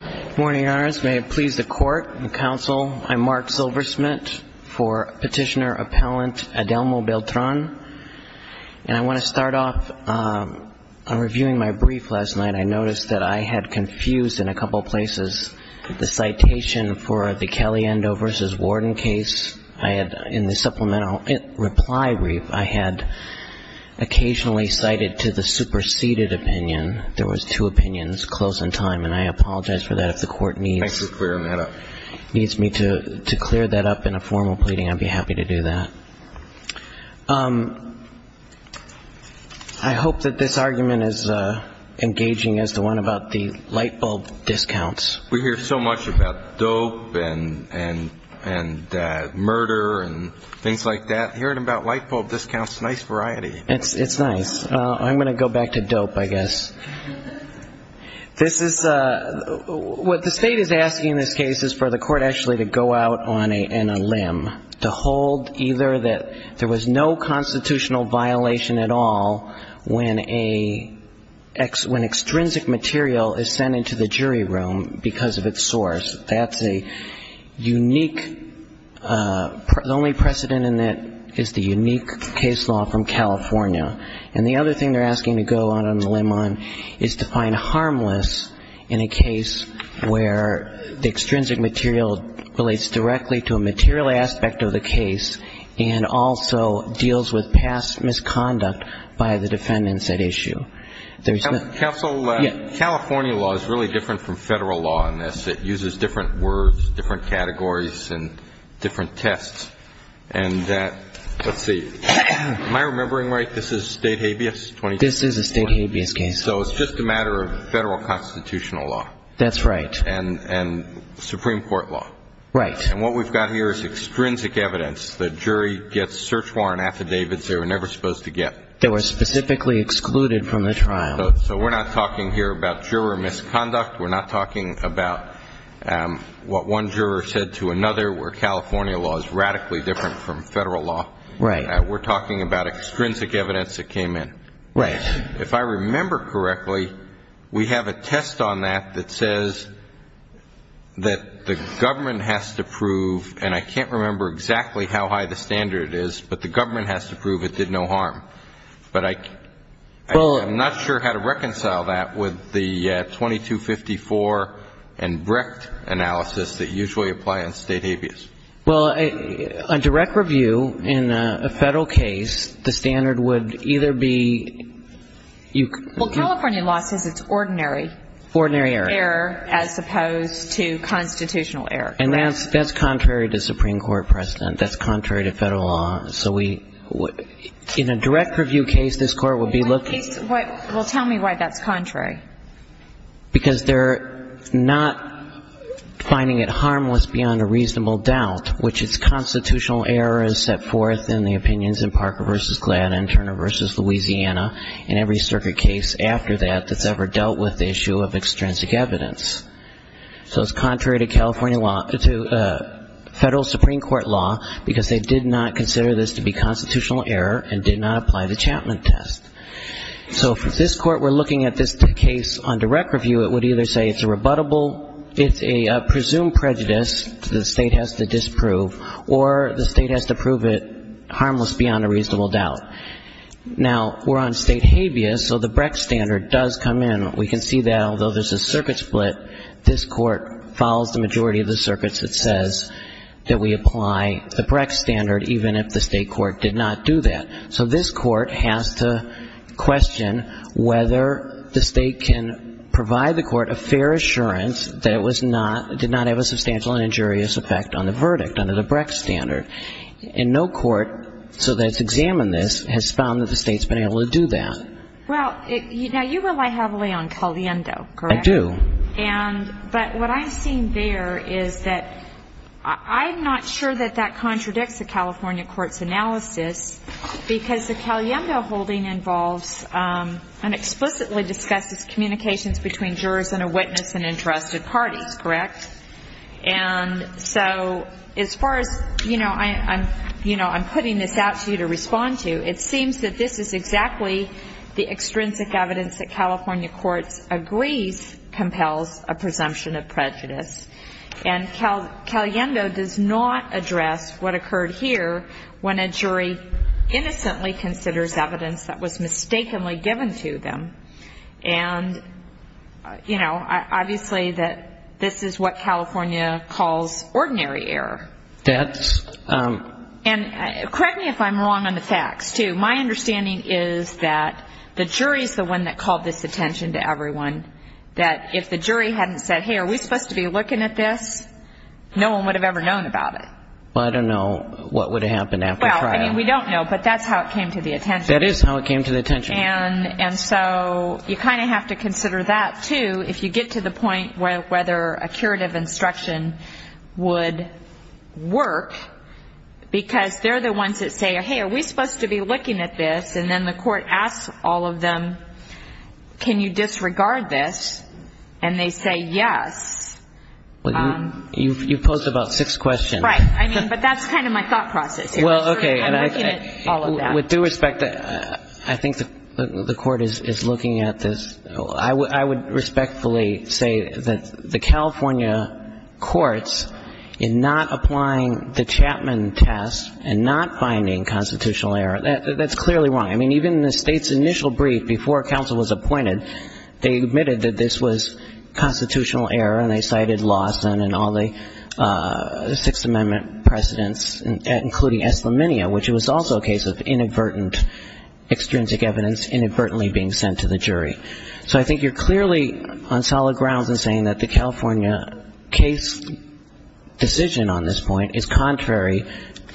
Good morning, Your Honors. May it please the Court and the Council, I'm Mark Silversmith for Petitioner-Appellant Adelmo Beltran. And I want to start off reviewing my brief last night. I noticed that I had confused in a couple places the citation for the Kelly-Endo v. Warden case. In the supplemental reply brief, I had occasionally cited to the superseded opinion. There was two opinions close in time, and I apologize for that if the Court needs me to clear that up in a formal pleading. I'd be happy to do that. I hope that this argument is engaging as the one about the lightbulb discounts. We hear so much about dope and murder and things like that. Hearing about lightbulb discounts, nice variety. It's nice. I'm going to go back to dope, I guess. What the State is asking in this case is for the Court actually to go out on a limb, to hold either that there was no constitutional violation at all when extrinsic material is sent into the jury room because of its source. That's a unique, the only precedent in that is the unique case law from California. And the other thing they're asking to go out on a limb on is to find harmless in a case where the extrinsic material relates directly to a material aspect of the case and also deals with past misconduct by the defendants at issue. Counsel, California law is really different from Federal law in this. It uses different words, different categories, and different tests. And that, let's see, am I remembering right, this is State habeas? This is a State habeas case. So it's just a matter of Federal constitutional law. That's right. And Supreme Court law. Right. And what we've got here is extrinsic evidence. The jury gets search warrant affidavits they were never supposed to get. They were specifically excluded from the trial. So we're not talking here about juror misconduct. We're not talking about what one juror said to another where California law is radically different from Federal law. Right. We're talking about extrinsic evidence that came in. Right. If I remember correctly, we have a test on that that says that the government has to prove, and I can't remember exactly how high the standard is, but the government has to prove it did no harm. But I'm not sure how to reconcile that with the 2254 and BRICT analysis that usually apply on State habeas. Well, a direct review in a Federal case, the standard would either be... Well, California law says it's ordinary. Ordinary error. Error as opposed to constitutional error. And that's contrary to Supreme Court precedent. That's contrary to Federal law. So we... In a direct review case, this Court would be looking... Well, tell me why that's contrary. Because they're not finding it harmless beyond a reasonable doubt, which is constitutional error is set forth in the opinions in Parker v. Gladden, Turner v. Louisiana, and every circuit case after that that's ever dealt with the issue of extrinsic evidence. So it's contrary to California law... to Federal Supreme Court law because they did not consider this to be constitutional error and did not apply the Chapman test. So if this Court were looking at this case on direct review, it would either say it's a rebuttable, it's a presumed prejudice that the State has to disprove, or the State has to prove it harmless beyond a reasonable doubt. Now, we're on State habeas, so the BRICT standard does come in. We can see that although there's a circuit split, this Court follows the majority of the circuits that says that we apply the BRICT standard even if the State court did not do that. So this Court has to question whether the State can provide the Court a fair assurance that it did not have a substantial and injurious effect on the verdict under the BRICT standard. And no court, so that it's examined this, has found that the State's been able to do that. Well, now you rely heavily on Caliendo, correct? I do. But what I'm seeing there is that I'm not sure that that contradicts the California court's analysis because the Caliendo holding involves and explicitly discusses communications between jurors and a witness and entrusted parties, correct? And so as far as, you know, I'm putting this out to you to respond to, it seems that this is exactly the extrinsic evidence that California courts agrees compels a presumption of prejudice. And Caliendo does not address what occurred here when a jury innocently considers evidence that was mistakenly given to them. And, you know, obviously that this is what California calls ordinary error. That's... And correct me if I'm wrong on the facts, too. My understanding is that the jury is the one that called this attention to everyone, that if the jury hadn't said, hey, are we supposed to be looking at this, no one would have ever known about it. Well, I don't know what would have happened after trial. Well, I mean, we don't know, but that's how it came to the attention. That is how it came to the attention. And so you kind of have to consider that, too, if you get to the point whether a curative instruction would work, because they're the ones that say, hey, are we supposed to be looking at this? And then the court asks all of them, can you disregard this? And they say yes. You posed about six questions. Right. I mean, but that's kind of my thought process. Well, okay. I'm looking at all of that. With due respect, I think the court is looking at this. I would respectfully say that the California courts in not applying the Chapman test and not finding constitutional error, that's clearly wrong. I mean, even the state's initial brief before counsel was appointed, they admitted that this was constitutional error, and they cited Lawson and all the Sixth Amendment precedents, including eslaminia, which was also a case of inadvertent, extrinsic evidence inadvertently being sent to the jury. So I think you're clearly on solid grounds in saying that the California case decision on this point is contrary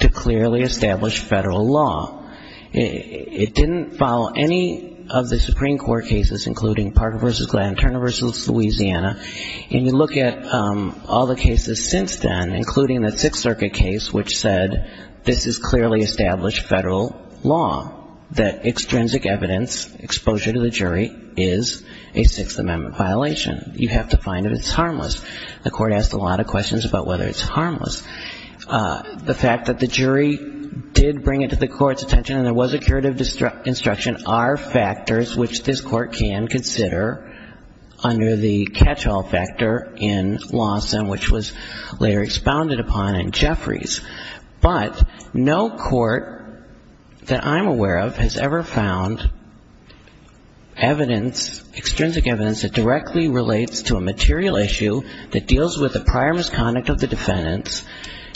to clearly established federal law. It didn't follow any of the Supreme Court cases, including Parker v. Glenn, Turner v. Louisiana, and you look at all the cases since then, including the Sixth Circuit case, which said this is clearly established federal law, that extrinsic evidence exposure to the jury is a Sixth Amendment violation. You have to find if it's harmless. The court asked a lot of questions about whether it's harmless. The fact that the jury did bring it to the court's attention and there was a curative instruction are factors which this court can consider under the catch-all factor in Lawson, which was later expounded upon in Jeffries. But no court that I'm aware of has ever found evidence, extrinsic evidence, that directly relates to a material issue that deals with the prior misconduct of the defendants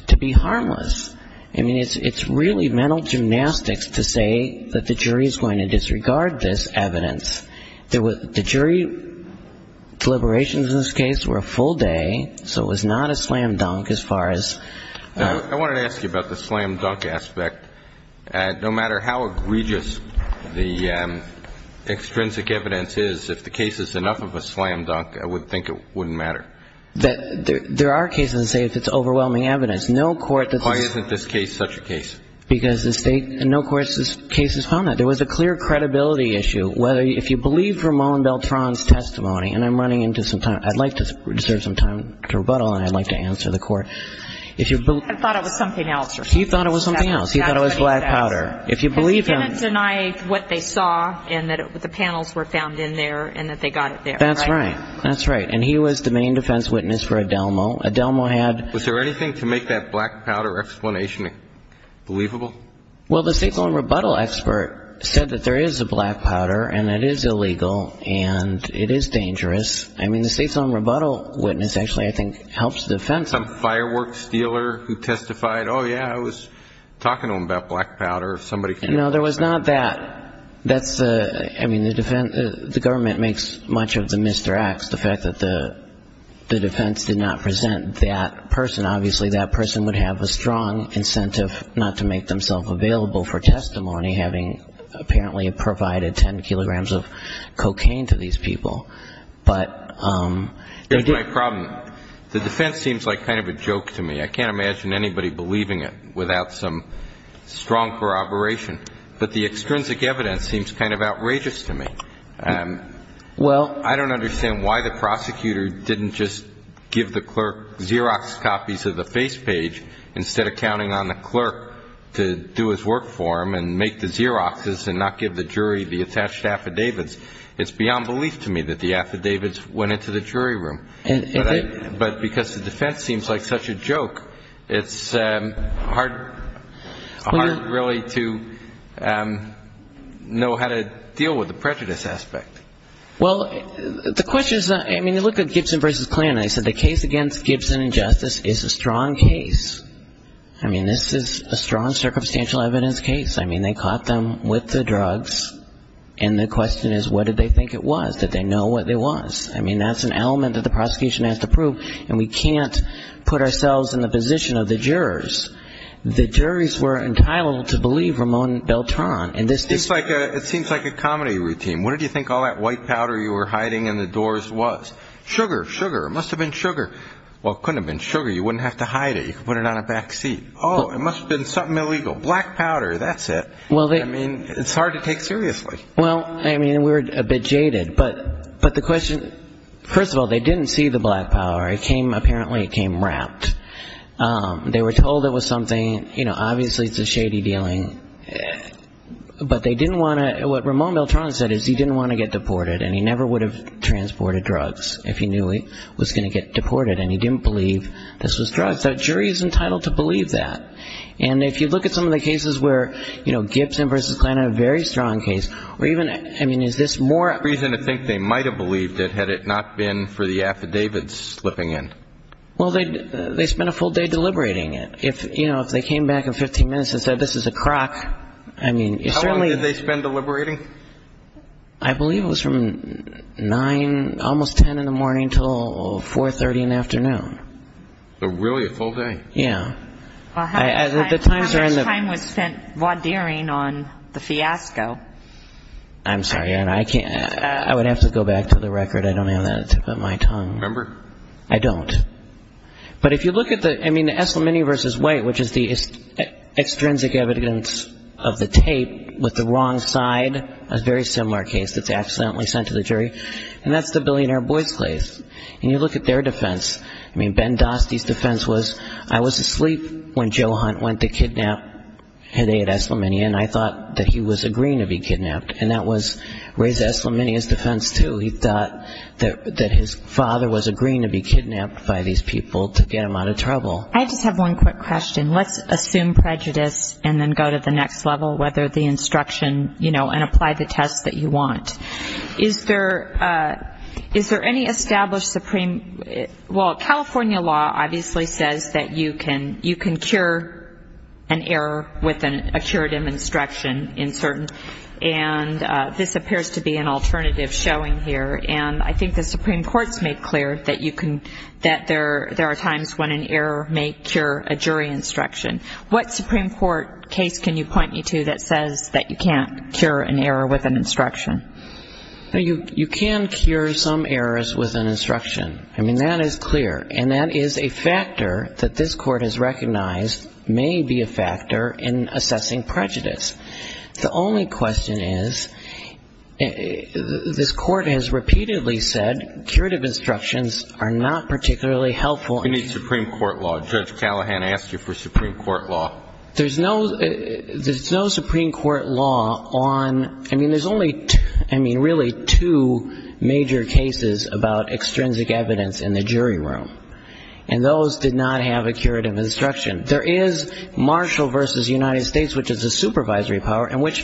to be harmless. I mean, it's really mental gymnastics to say that the jury is going to disregard this evidence. The jury deliberations in this case were a full day, so it was not a slam-dunk as far as... I wanted to ask you about the slam-dunk aspect. No matter how egregious the extrinsic evidence is, if the case is enough of a slam-dunk, I would think it wouldn't matter. There are cases, say, if it's overwhelming evidence, no court... Why isn't this case such a case? Because no court's case has found that. There was a clear credibility issue. If you believe Ramon Beltran's testimony, and I'm running into some time. I'd like to reserve some time to rebuttal, and I'd like to answer the court. I thought it was something else. He thought it was something else. He thought it was black powder. If you believe him... Because he didn't deny what they saw and that the panels were found in there and that they got it there. That's right. That's right. And he was the main defense witness for Adelmo. Adelmo had... Was there anything to make that black powder explanation believable? Well, the state's own rebuttal expert said that there is a black powder, and it is illegal, and it is dangerous. I mean, the state's own rebuttal witness actually, I think, helps the defense. Some firework stealer who testified, oh, yeah, I was talking to him about black powder. If somebody... No, there was not that. That's the... I mean, the government makes much of the misdirects. The fact that the defense did not present that person. And obviously that person would have a strong incentive not to make themselves available for testimony, having apparently provided 10 kilograms of cocaine to these people. But... Here's my problem. The defense seems like kind of a joke to me. I can't imagine anybody believing it without some strong corroboration. But the extrinsic evidence seems kind of outrageous to me. Well... I don't understand why the prosecutor didn't just give the clerk Xerox copies of the face page instead of counting on the clerk to do his work for him and make the Xeroxes and not give the jury the attached affidavits. It's beyond belief to me that the affidavits went into the jury room. But because the defense seems like such a joke, it's hard really to know how to deal with the prejudice aspect. Well, the question is, I mean, you look at Gibson v. Klan, and they said the case against Gibson and Justice is a strong case. I mean, this is a strong circumstantial evidence case. I mean, they caught them with the drugs, and the question is, what did they think it was? Did they know what it was? I mean, that's an element that the prosecution has to prove, and we can't put ourselves in the position of the jurors. The juries were entitled to believe Ramon Beltran. It seems like a comedy routine. What did you think all that white powder you were hiding in the doors was? Sugar, sugar. It must have been sugar. Well, it couldn't have been sugar. You wouldn't have to hide it. You could put it on a back seat. Oh, it must have been something illegal. Black powder. That's it. I mean, it's hard to take seriously. Well, I mean, we're a bit jaded. But the question, first of all, they didn't see the black powder. Apparently it came wrapped. They were told it was something, you know, obviously it's a shady dealing. But they didn't want to – what Ramon Beltran said is he didn't want to get deported, and he never would have transported drugs if he knew he was going to get deported, and he didn't believe this was drugs. That jury is entitled to believe that. And if you look at some of the cases where, you know, Gibson v. Kline are a very strong case. I mean, is this more reason to think they might have believed it had it not been for the affidavits slipping in? Well, they spent a full day deliberating it. If, you know, if they came back in 15 minutes and said this is a crock, I mean, it's really – How long did they spend deliberating? I believe it was from 9, almost 10 in the morning until 4.30 in the afternoon. So really a full day. Yeah. How much time was spent wadeering on the fiasco? I'm sorry, I would have to go back to the record. I don't have that at the tip of my tongue. Remember? I don't. But if you look at the – I mean, the Eslamini v. White, which is the extrinsic evidence of the tape with the wrong side, a very similar case that's accidentally sent to the jury, and that's the Billionaire Boys case. And you look at their defense. I mean, Ben Dostey's defense was, I was asleep when Joe Hunt went to kidnap Heday at Eslamini and I thought that he was agreeing to be kidnapped. And that was Ray Eslamini's defense, too. He thought that his father was agreeing to be kidnapped by these people to get him out of trouble. I just have one quick question. Let's assume prejudice and then go to the next level, whether the instruction, you know, and apply the tests that you want. Is there any established supreme – well, California law obviously says that you can cure an error with a curative instruction in certain – and this appears to be an alternative showing here. And I think the Supreme Court's made clear that you can – that there are times when an error may cure a jury instruction. What Supreme Court case can you point me to that says that you can't cure an error with an instruction? You can cure some errors with an instruction. I mean, that is clear. And that is a factor that this Court has recognized may be a factor in assessing prejudice. The only question is this Court has repeatedly said curative instructions are not particularly helpful. We need Supreme Court law. Judge Callahan asked you for Supreme Court law. There's no Supreme Court law on – I mean, there's only, I mean, really two major cases about extrinsic evidence in the jury room. And those did not have a curative instruction. There is Marshall v. United States, which is a supervisory power, and which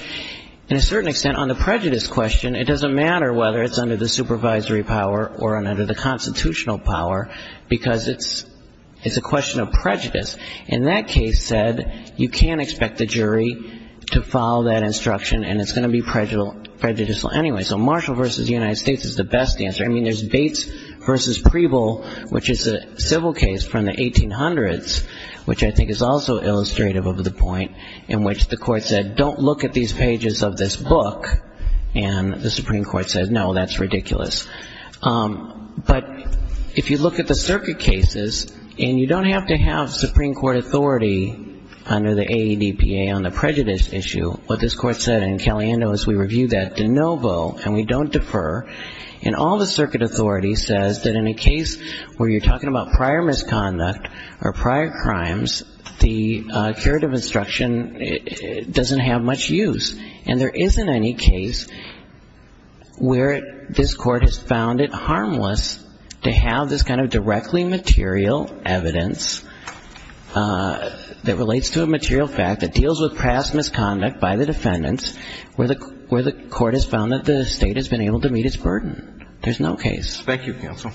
in a certain extent on the prejudice question, it doesn't matter whether it's under the supervisory power or under the constitutional power because it's a question of prejudice. And that case said you can't expect the jury to follow that instruction, and it's going to be prejudicial anyway. So Marshall v. United States is the best answer. I mean, there's Bates v. Preble, which is a civil case from the 1800s, which I think is also illustrative of the point in which the Court said, don't look at these pages of this book. And the Supreme Court said, no, that's ridiculous. But if you look at the circuit cases, and you don't have to have Supreme Court authority under the AEDPA on the prejudice issue, what this Court said in Caliendo is we review that de novo and we don't defer. And all the circuit authority says that in a case where you're talking about prior misconduct or prior crimes, the curative instruction doesn't have much use. And there isn't any case where this Court has found it harmless to have this kind of directly material evidence that relates to a material fact that deals with past misconduct by the defendants, where the Court has found that the State has been able to meet its burden. There's no case. Thank you, Counsel.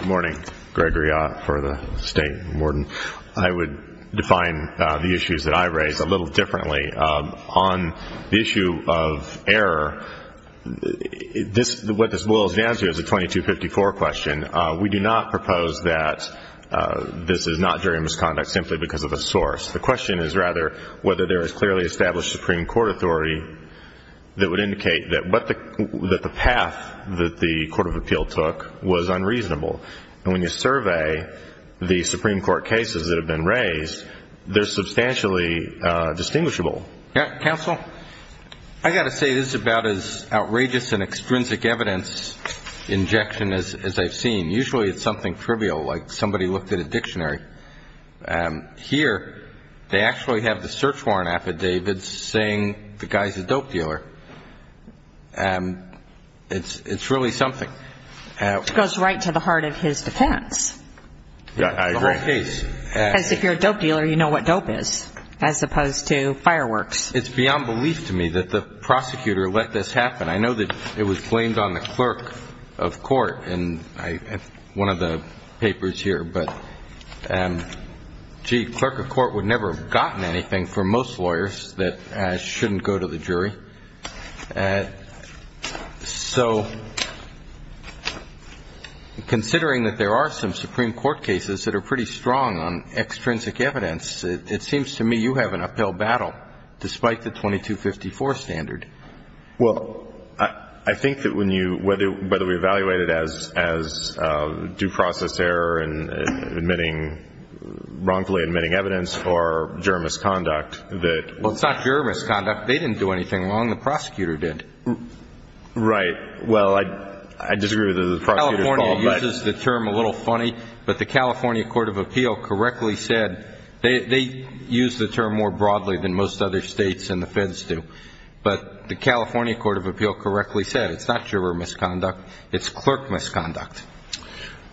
Good morning. Gregory Ott for the State Warden. I would define the issues that I raise a little differently. On the issue of error, what this boils down to is a 2254 question. We do not propose that this is not jury misconduct simply because of a source. The question is rather whether there is clearly established Supreme Court authority that would indicate that the path that the Court of Appeal took was unreasonable. And when you survey the Supreme Court cases that have been raised, they're substantially distinguishable. Counsel, I've got to say this is about as outrageous an extrinsic evidence injection as I've seen. Usually it's something trivial, like somebody looked at a dictionary. Here they actually have the search warrant affidavits saying the guy's a dope dealer. It's really something. Which goes right to the heart of his defense. Yeah, I agree. The whole case. Because if you're a dope dealer, you know what dope is, as opposed to fireworks. It's beyond belief to me that the prosecutor let this happen. I know that it was blamed on the clerk of court in one of the papers here. But, gee, clerk of court would never have gotten anything from most lawyers that shouldn't go to the jury. So considering that there are some Supreme Court cases that are pretty strong on extrinsic evidence, it seems to me you have an uphill battle despite the 2254 standard. Well, I think that whether we evaluate it as due process error and wrongfully admitting evidence or juror misconduct. Well, it's not juror misconduct. They didn't do anything wrong. The prosecutor did. Right. Well, I disagree with the prosecutor's fault. California uses the term a little funny. But the California Court of Appeal correctly said they use the term more broadly than most other states and the feds do. But the California Court of Appeal correctly said it's not juror misconduct, it's clerk misconduct.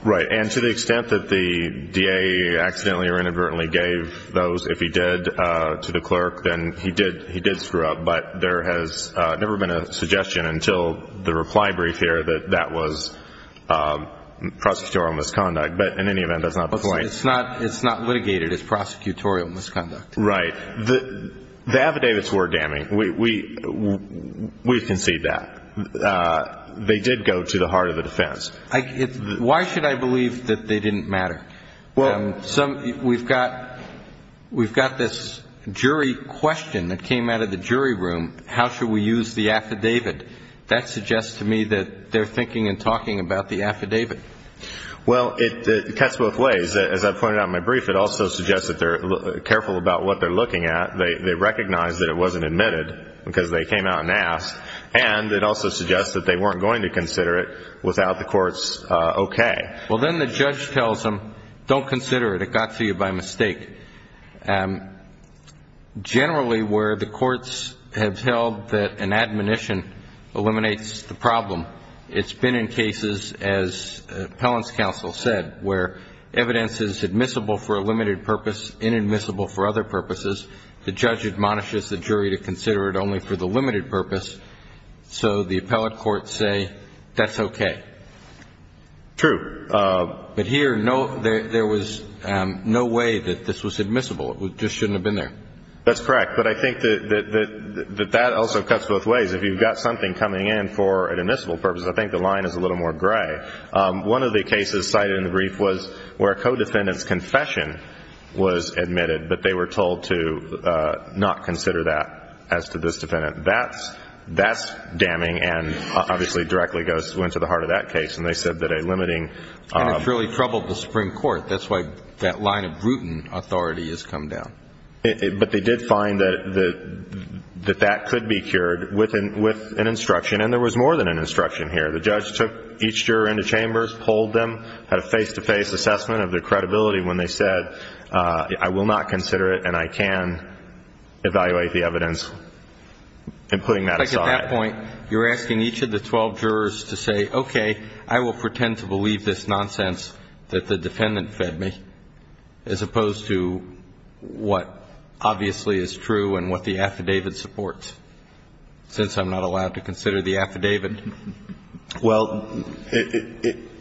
Right. And to the extent that the DA accidentally or inadvertently gave those, if he did, to the clerk, then he did screw up. But there has never been a suggestion until the reply brief here that that was prosecutorial misconduct. But in any event, that's not the point. It's not litigated as prosecutorial misconduct. Right. The affidavits were damning. We've conceded that. They did go to the heart of the defense. Why should I believe that they didn't matter? Well, we've got this jury question that came out of the jury room, how should we use the affidavit. That suggests to me that they're thinking and talking about the affidavit. Well, it cuts both ways. As I pointed out in my brief, it also suggests that they're careful about what they're looking at. They recognize that it wasn't admitted because they came out and asked. And it also suggests that they weren't going to consider it without the court's okay. Well, then the judge tells them, don't consider it. It got to you by mistake. Generally, where the courts have held that an admonition eliminates the problem, it's been in cases, as appellant's counsel said, where evidence is admissible for a limited purpose, inadmissible for other purposes. The judge admonishes the jury to consider it only for the limited purpose. So the appellate courts say that's okay. True. But here, there was no way that this was admissible. It just shouldn't have been there. That's correct. But I think that that also cuts both ways. If you've got something coming in for an admissible purpose, I think the line is a little more gray. One of the cases cited in the brief was where a co-defendant's confession was admitted, but they were told to not consider that as to this defendant. That's damning and obviously directly goes to the heart of that case. And they said that a limiting. And it really troubled the Supreme Court. That's why that line of Bruton authority has come down. But they did find that that could be cured with an instruction. And there was more than an instruction here. The judge took each juror into chambers, polled them, had a face-to-face assessment of their credibility when they said, I will not consider it and I can evaluate the evidence, and putting that aside. At that point, you're asking each of the 12 jurors to say, okay, I will pretend to believe this nonsense that the defendant fed me, as opposed to what obviously is true and what the affidavit supports, since I'm not allowed to consider the affidavit. Well,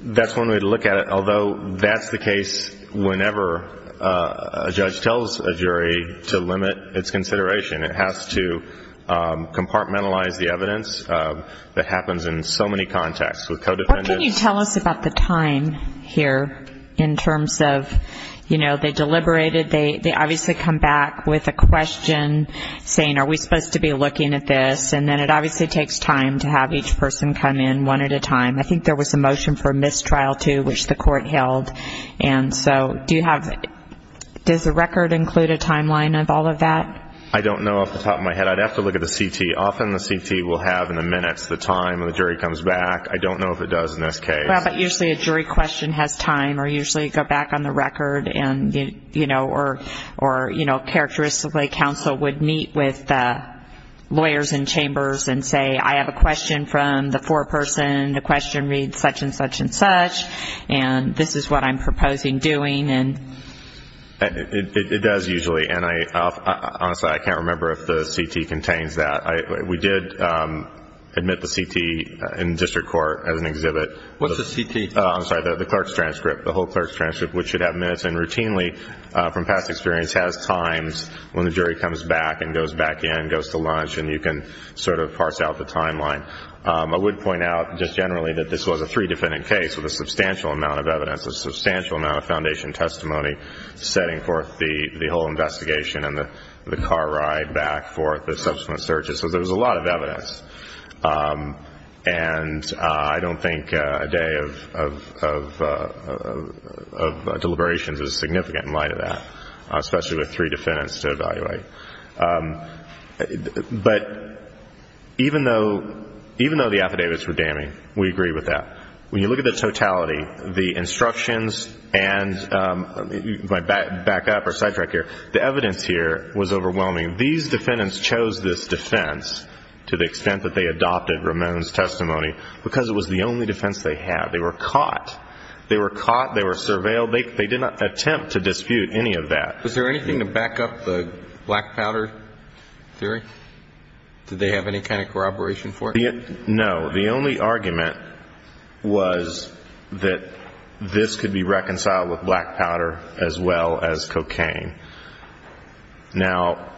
that's one way to look at it, although that's the case whenever a judge tells a jury to limit its consideration. It has to compartmentalize the evidence that happens in so many contexts. What can you tell us about the time here in terms of, you know, they deliberated, they obviously come back with a question saying, are we supposed to be looking at this? And then it obviously takes time to have each person come in one at a time. I think there was a motion for mistrial, too, which the court held. And so do you have, does the record include a timeline of all of that? I don't know off the top of my head. I'd have to look at the CT. Often the CT will have in the minutes the time when the jury comes back. I don't know if it does in this case. Well, but usually a jury question has time or usually go back on the record, you know, or, you know, characteristically, counsel would meet with the lawyers in chambers and say, I have a question from the foreperson, the question reads such and such and such, and this is what I'm proposing doing. It does usually, and honestly I can't remember if the CT contains that. We did admit the CT in district court as an exhibit. What's the CT? I'm sorry, the clerk's transcript, the whole clerk's transcript, which should have minutes in routinely from past experience, has times when the jury comes back and goes back in, goes to lunch, and you can sort of parse out the timeline. I would point out just generally that this was a three-defendant case with a substantial amount of evidence, a substantial amount of foundation testimony setting forth the whole investigation and the car ride back forth, the subsequent searches. So there was a lot of evidence. And I don't think a day of deliberations is significant in light of that, especially with three defendants to evaluate. But even though the affidavits were damning, we agree with that. When you look at the totality, the instructions and my backup or sidetrack here, the evidence here was overwhelming. These defendants chose this defense to the extent that they adopted Ramon's testimony because it was the only defense they had. They were caught. They were caught. They were surveilled. They did not attempt to dispute any of that. Was there anything to back up the black powder theory? Did they have any kind of corroboration for it? No. The only argument was that this could be reconciled with black powder as well as cocaine. Now,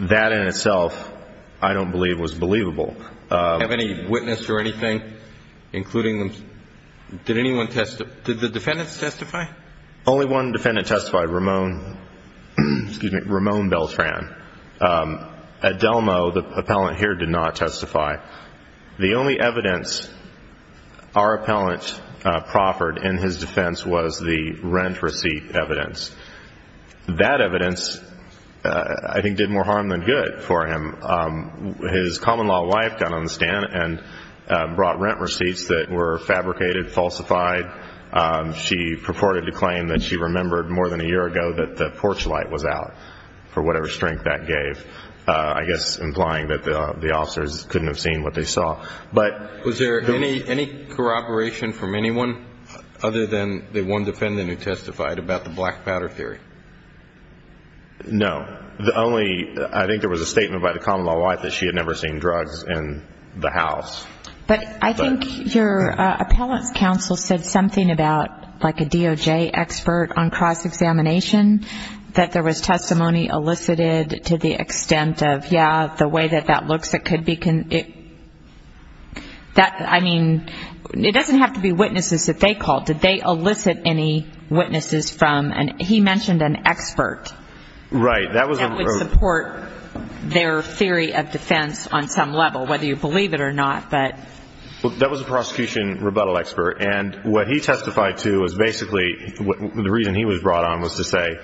that in itself I don't believe was believable. Have any witnesses or anything, including them, did anyone testify? Did the defendants testify? Only one defendant testified, Ramon Beltran. At Delmo, the appellant here did not testify. The only evidence our appellant proffered in his defense was the rent receipt evidence. That evidence, I think, did more harm than good for him. His common-law wife got on the stand and brought rent receipts that were fabricated, falsified. She purported to claim that she remembered more than a year ago that the porch light was out, for whatever strength that gave, I guess implying that the officers couldn't have seen what they saw. Was there any corroboration from anyone other than the one defendant who testified about the black powder theory? No. I think there was a statement by the common-law wife that she had never seen drugs in the house. But I think your appellant's counsel said something about, like a DOJ expert on cross-examination, that there was testimony elicited to the extent of, yeah, the way that that looks, it could be... I mean, it doesn't have to be witnesses that they called. Did they elicit any witnesses from... He mentioned an expert. Right. That would support their theory of defense on some level, whether you believe it or not. That was a prosecution rebuttal expert. And what he testified to was basically, the reason he was brought on was to say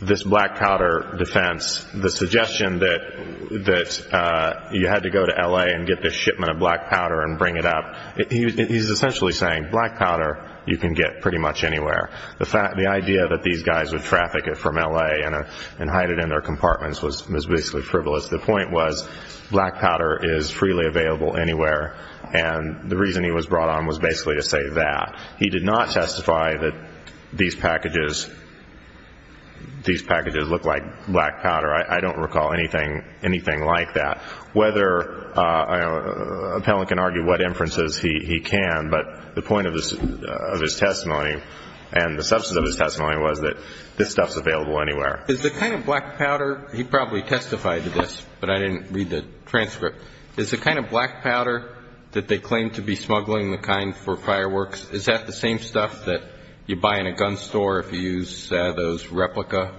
this black powder defense, the suggestion that you had to go to L.A. and get this shipment of black powder and bring it up, he's essentially saying black powder you can get pretty much anywhere. The idea that these guys would traffic it from L.A. and hide it in their compartments was basically frivolous. The point was black powder is freely available anywhere. And the reason he was brought on was basically to say that. He did not testify that these packages look like black powder. I don't recall anything like that. Whether an appellant can argue what inferences, he can. But the point of his testimony and the substance of his testimony was that this stuff is available anywhere. Is the kind of black powder... He probably testified to this, but I didn't read the transcript. Is the kind of black powder that they claim to be smuggling, the kind for fireworks, is that the same stuff that you buy in a gun store if you use those replica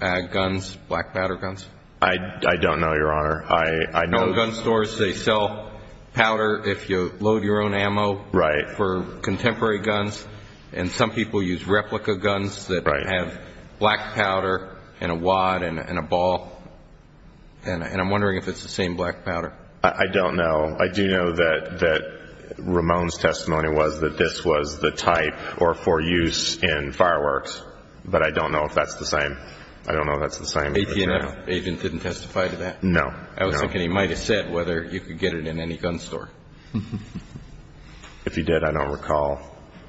guns, black powder guns? I don't know, Your Honor. I know gun stores, they sell powder if you load your own ammo. Right. For contemporary guns. And some people use replica guns that have black powder and a wad and a ball. And I'm wondering if it's the same black powder. I don't know. I do know that Ramone's testimony was that this was the type or for use in fireworks. But I don't know if that's the same. I don't know if that's the same. AT&F agent didn't testify to that? No. I was thinking he might have said whether you could get it in any gun store. If he did, I don't recall.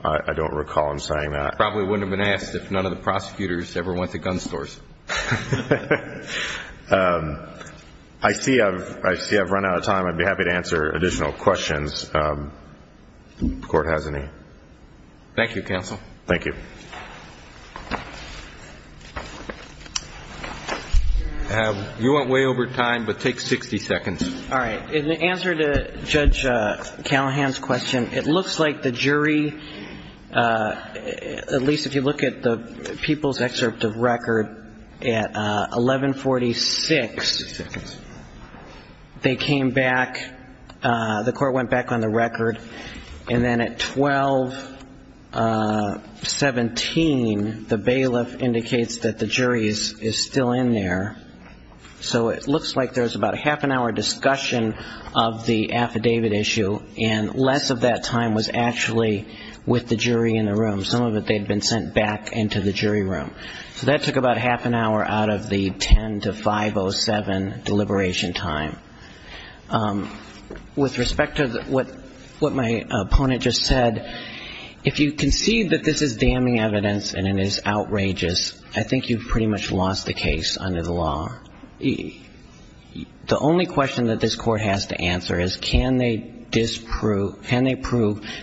I don't recall him saying that. I probably wouldn't have been asked if none of the prosecutors ever went to gun stores. I see I've run out of time. I'd be happy to answer additional questions if the Court has any. Thank you, Counsel. Thank you. You went way over time, but take 60 seconds. All right. In answer to Judge Callahan's question, it looks like the jury, at least if you look at the people's excerpt of record, at 1146 they came back, the Court went back on the record, and then at 1217 the bailiff indicates that the jury is still in there. So it looks like there's about a half an hour discussion of the affidavit issue and less of that time was actually with the jury in the room. Some of it they'd been sent back into the jury room. So that took about half an hour out of the 10 to 5.07 deliberation time. With respect to what my opponent just said, if you concede that this is damning evidence and it is outrageous, I think you've pretty much lost the case under the law. The only question that this Court has to answer is can they prove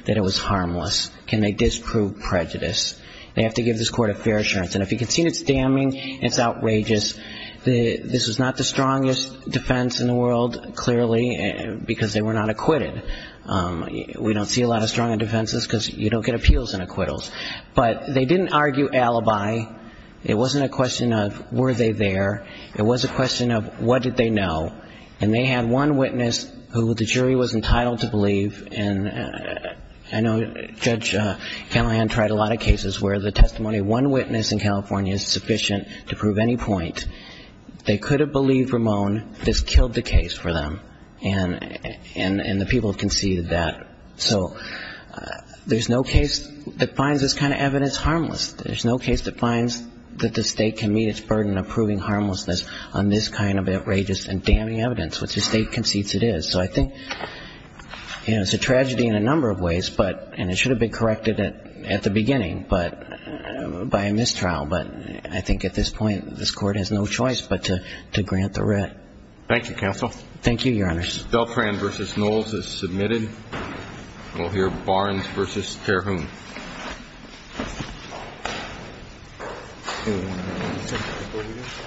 that it was harmless? Can they disprove prejudice? They have to give this Court a fair assurance. And if you concede it's damning, it's outrageous, this is not the strongest defense in the world, clearly, because they were not acquitted. We don't see a lot of strong defenses because you don't get appeals and acquittals. But they didn't argue alibi. It wasn't a question of were they there. It was a question of what did they know. And they had one witness who the jury was entitled to believe. And I know Judge Canahan tried a lot of cases where the testimony of one witness in California is sufficient to prove any point. They could have believed Ramon. This killed the case for them. And the people conceded that. So there's no case that finds this kind of evidence harmless. There's no case that finds that the State can meet its burden of proving harmlessness on this kind of outrageous and damning evidence, which the State concedes it is. So I think it's a tragedy in a number of ways, and it should have been corrected at the beginning by a mistrial. But I think at this point this Court has no choice but to grant the writ. Thank you, counsel. Thank you, Your Honors. Spell crayon v. Knowles is submitted. We'll hear Barnes v. Terhun.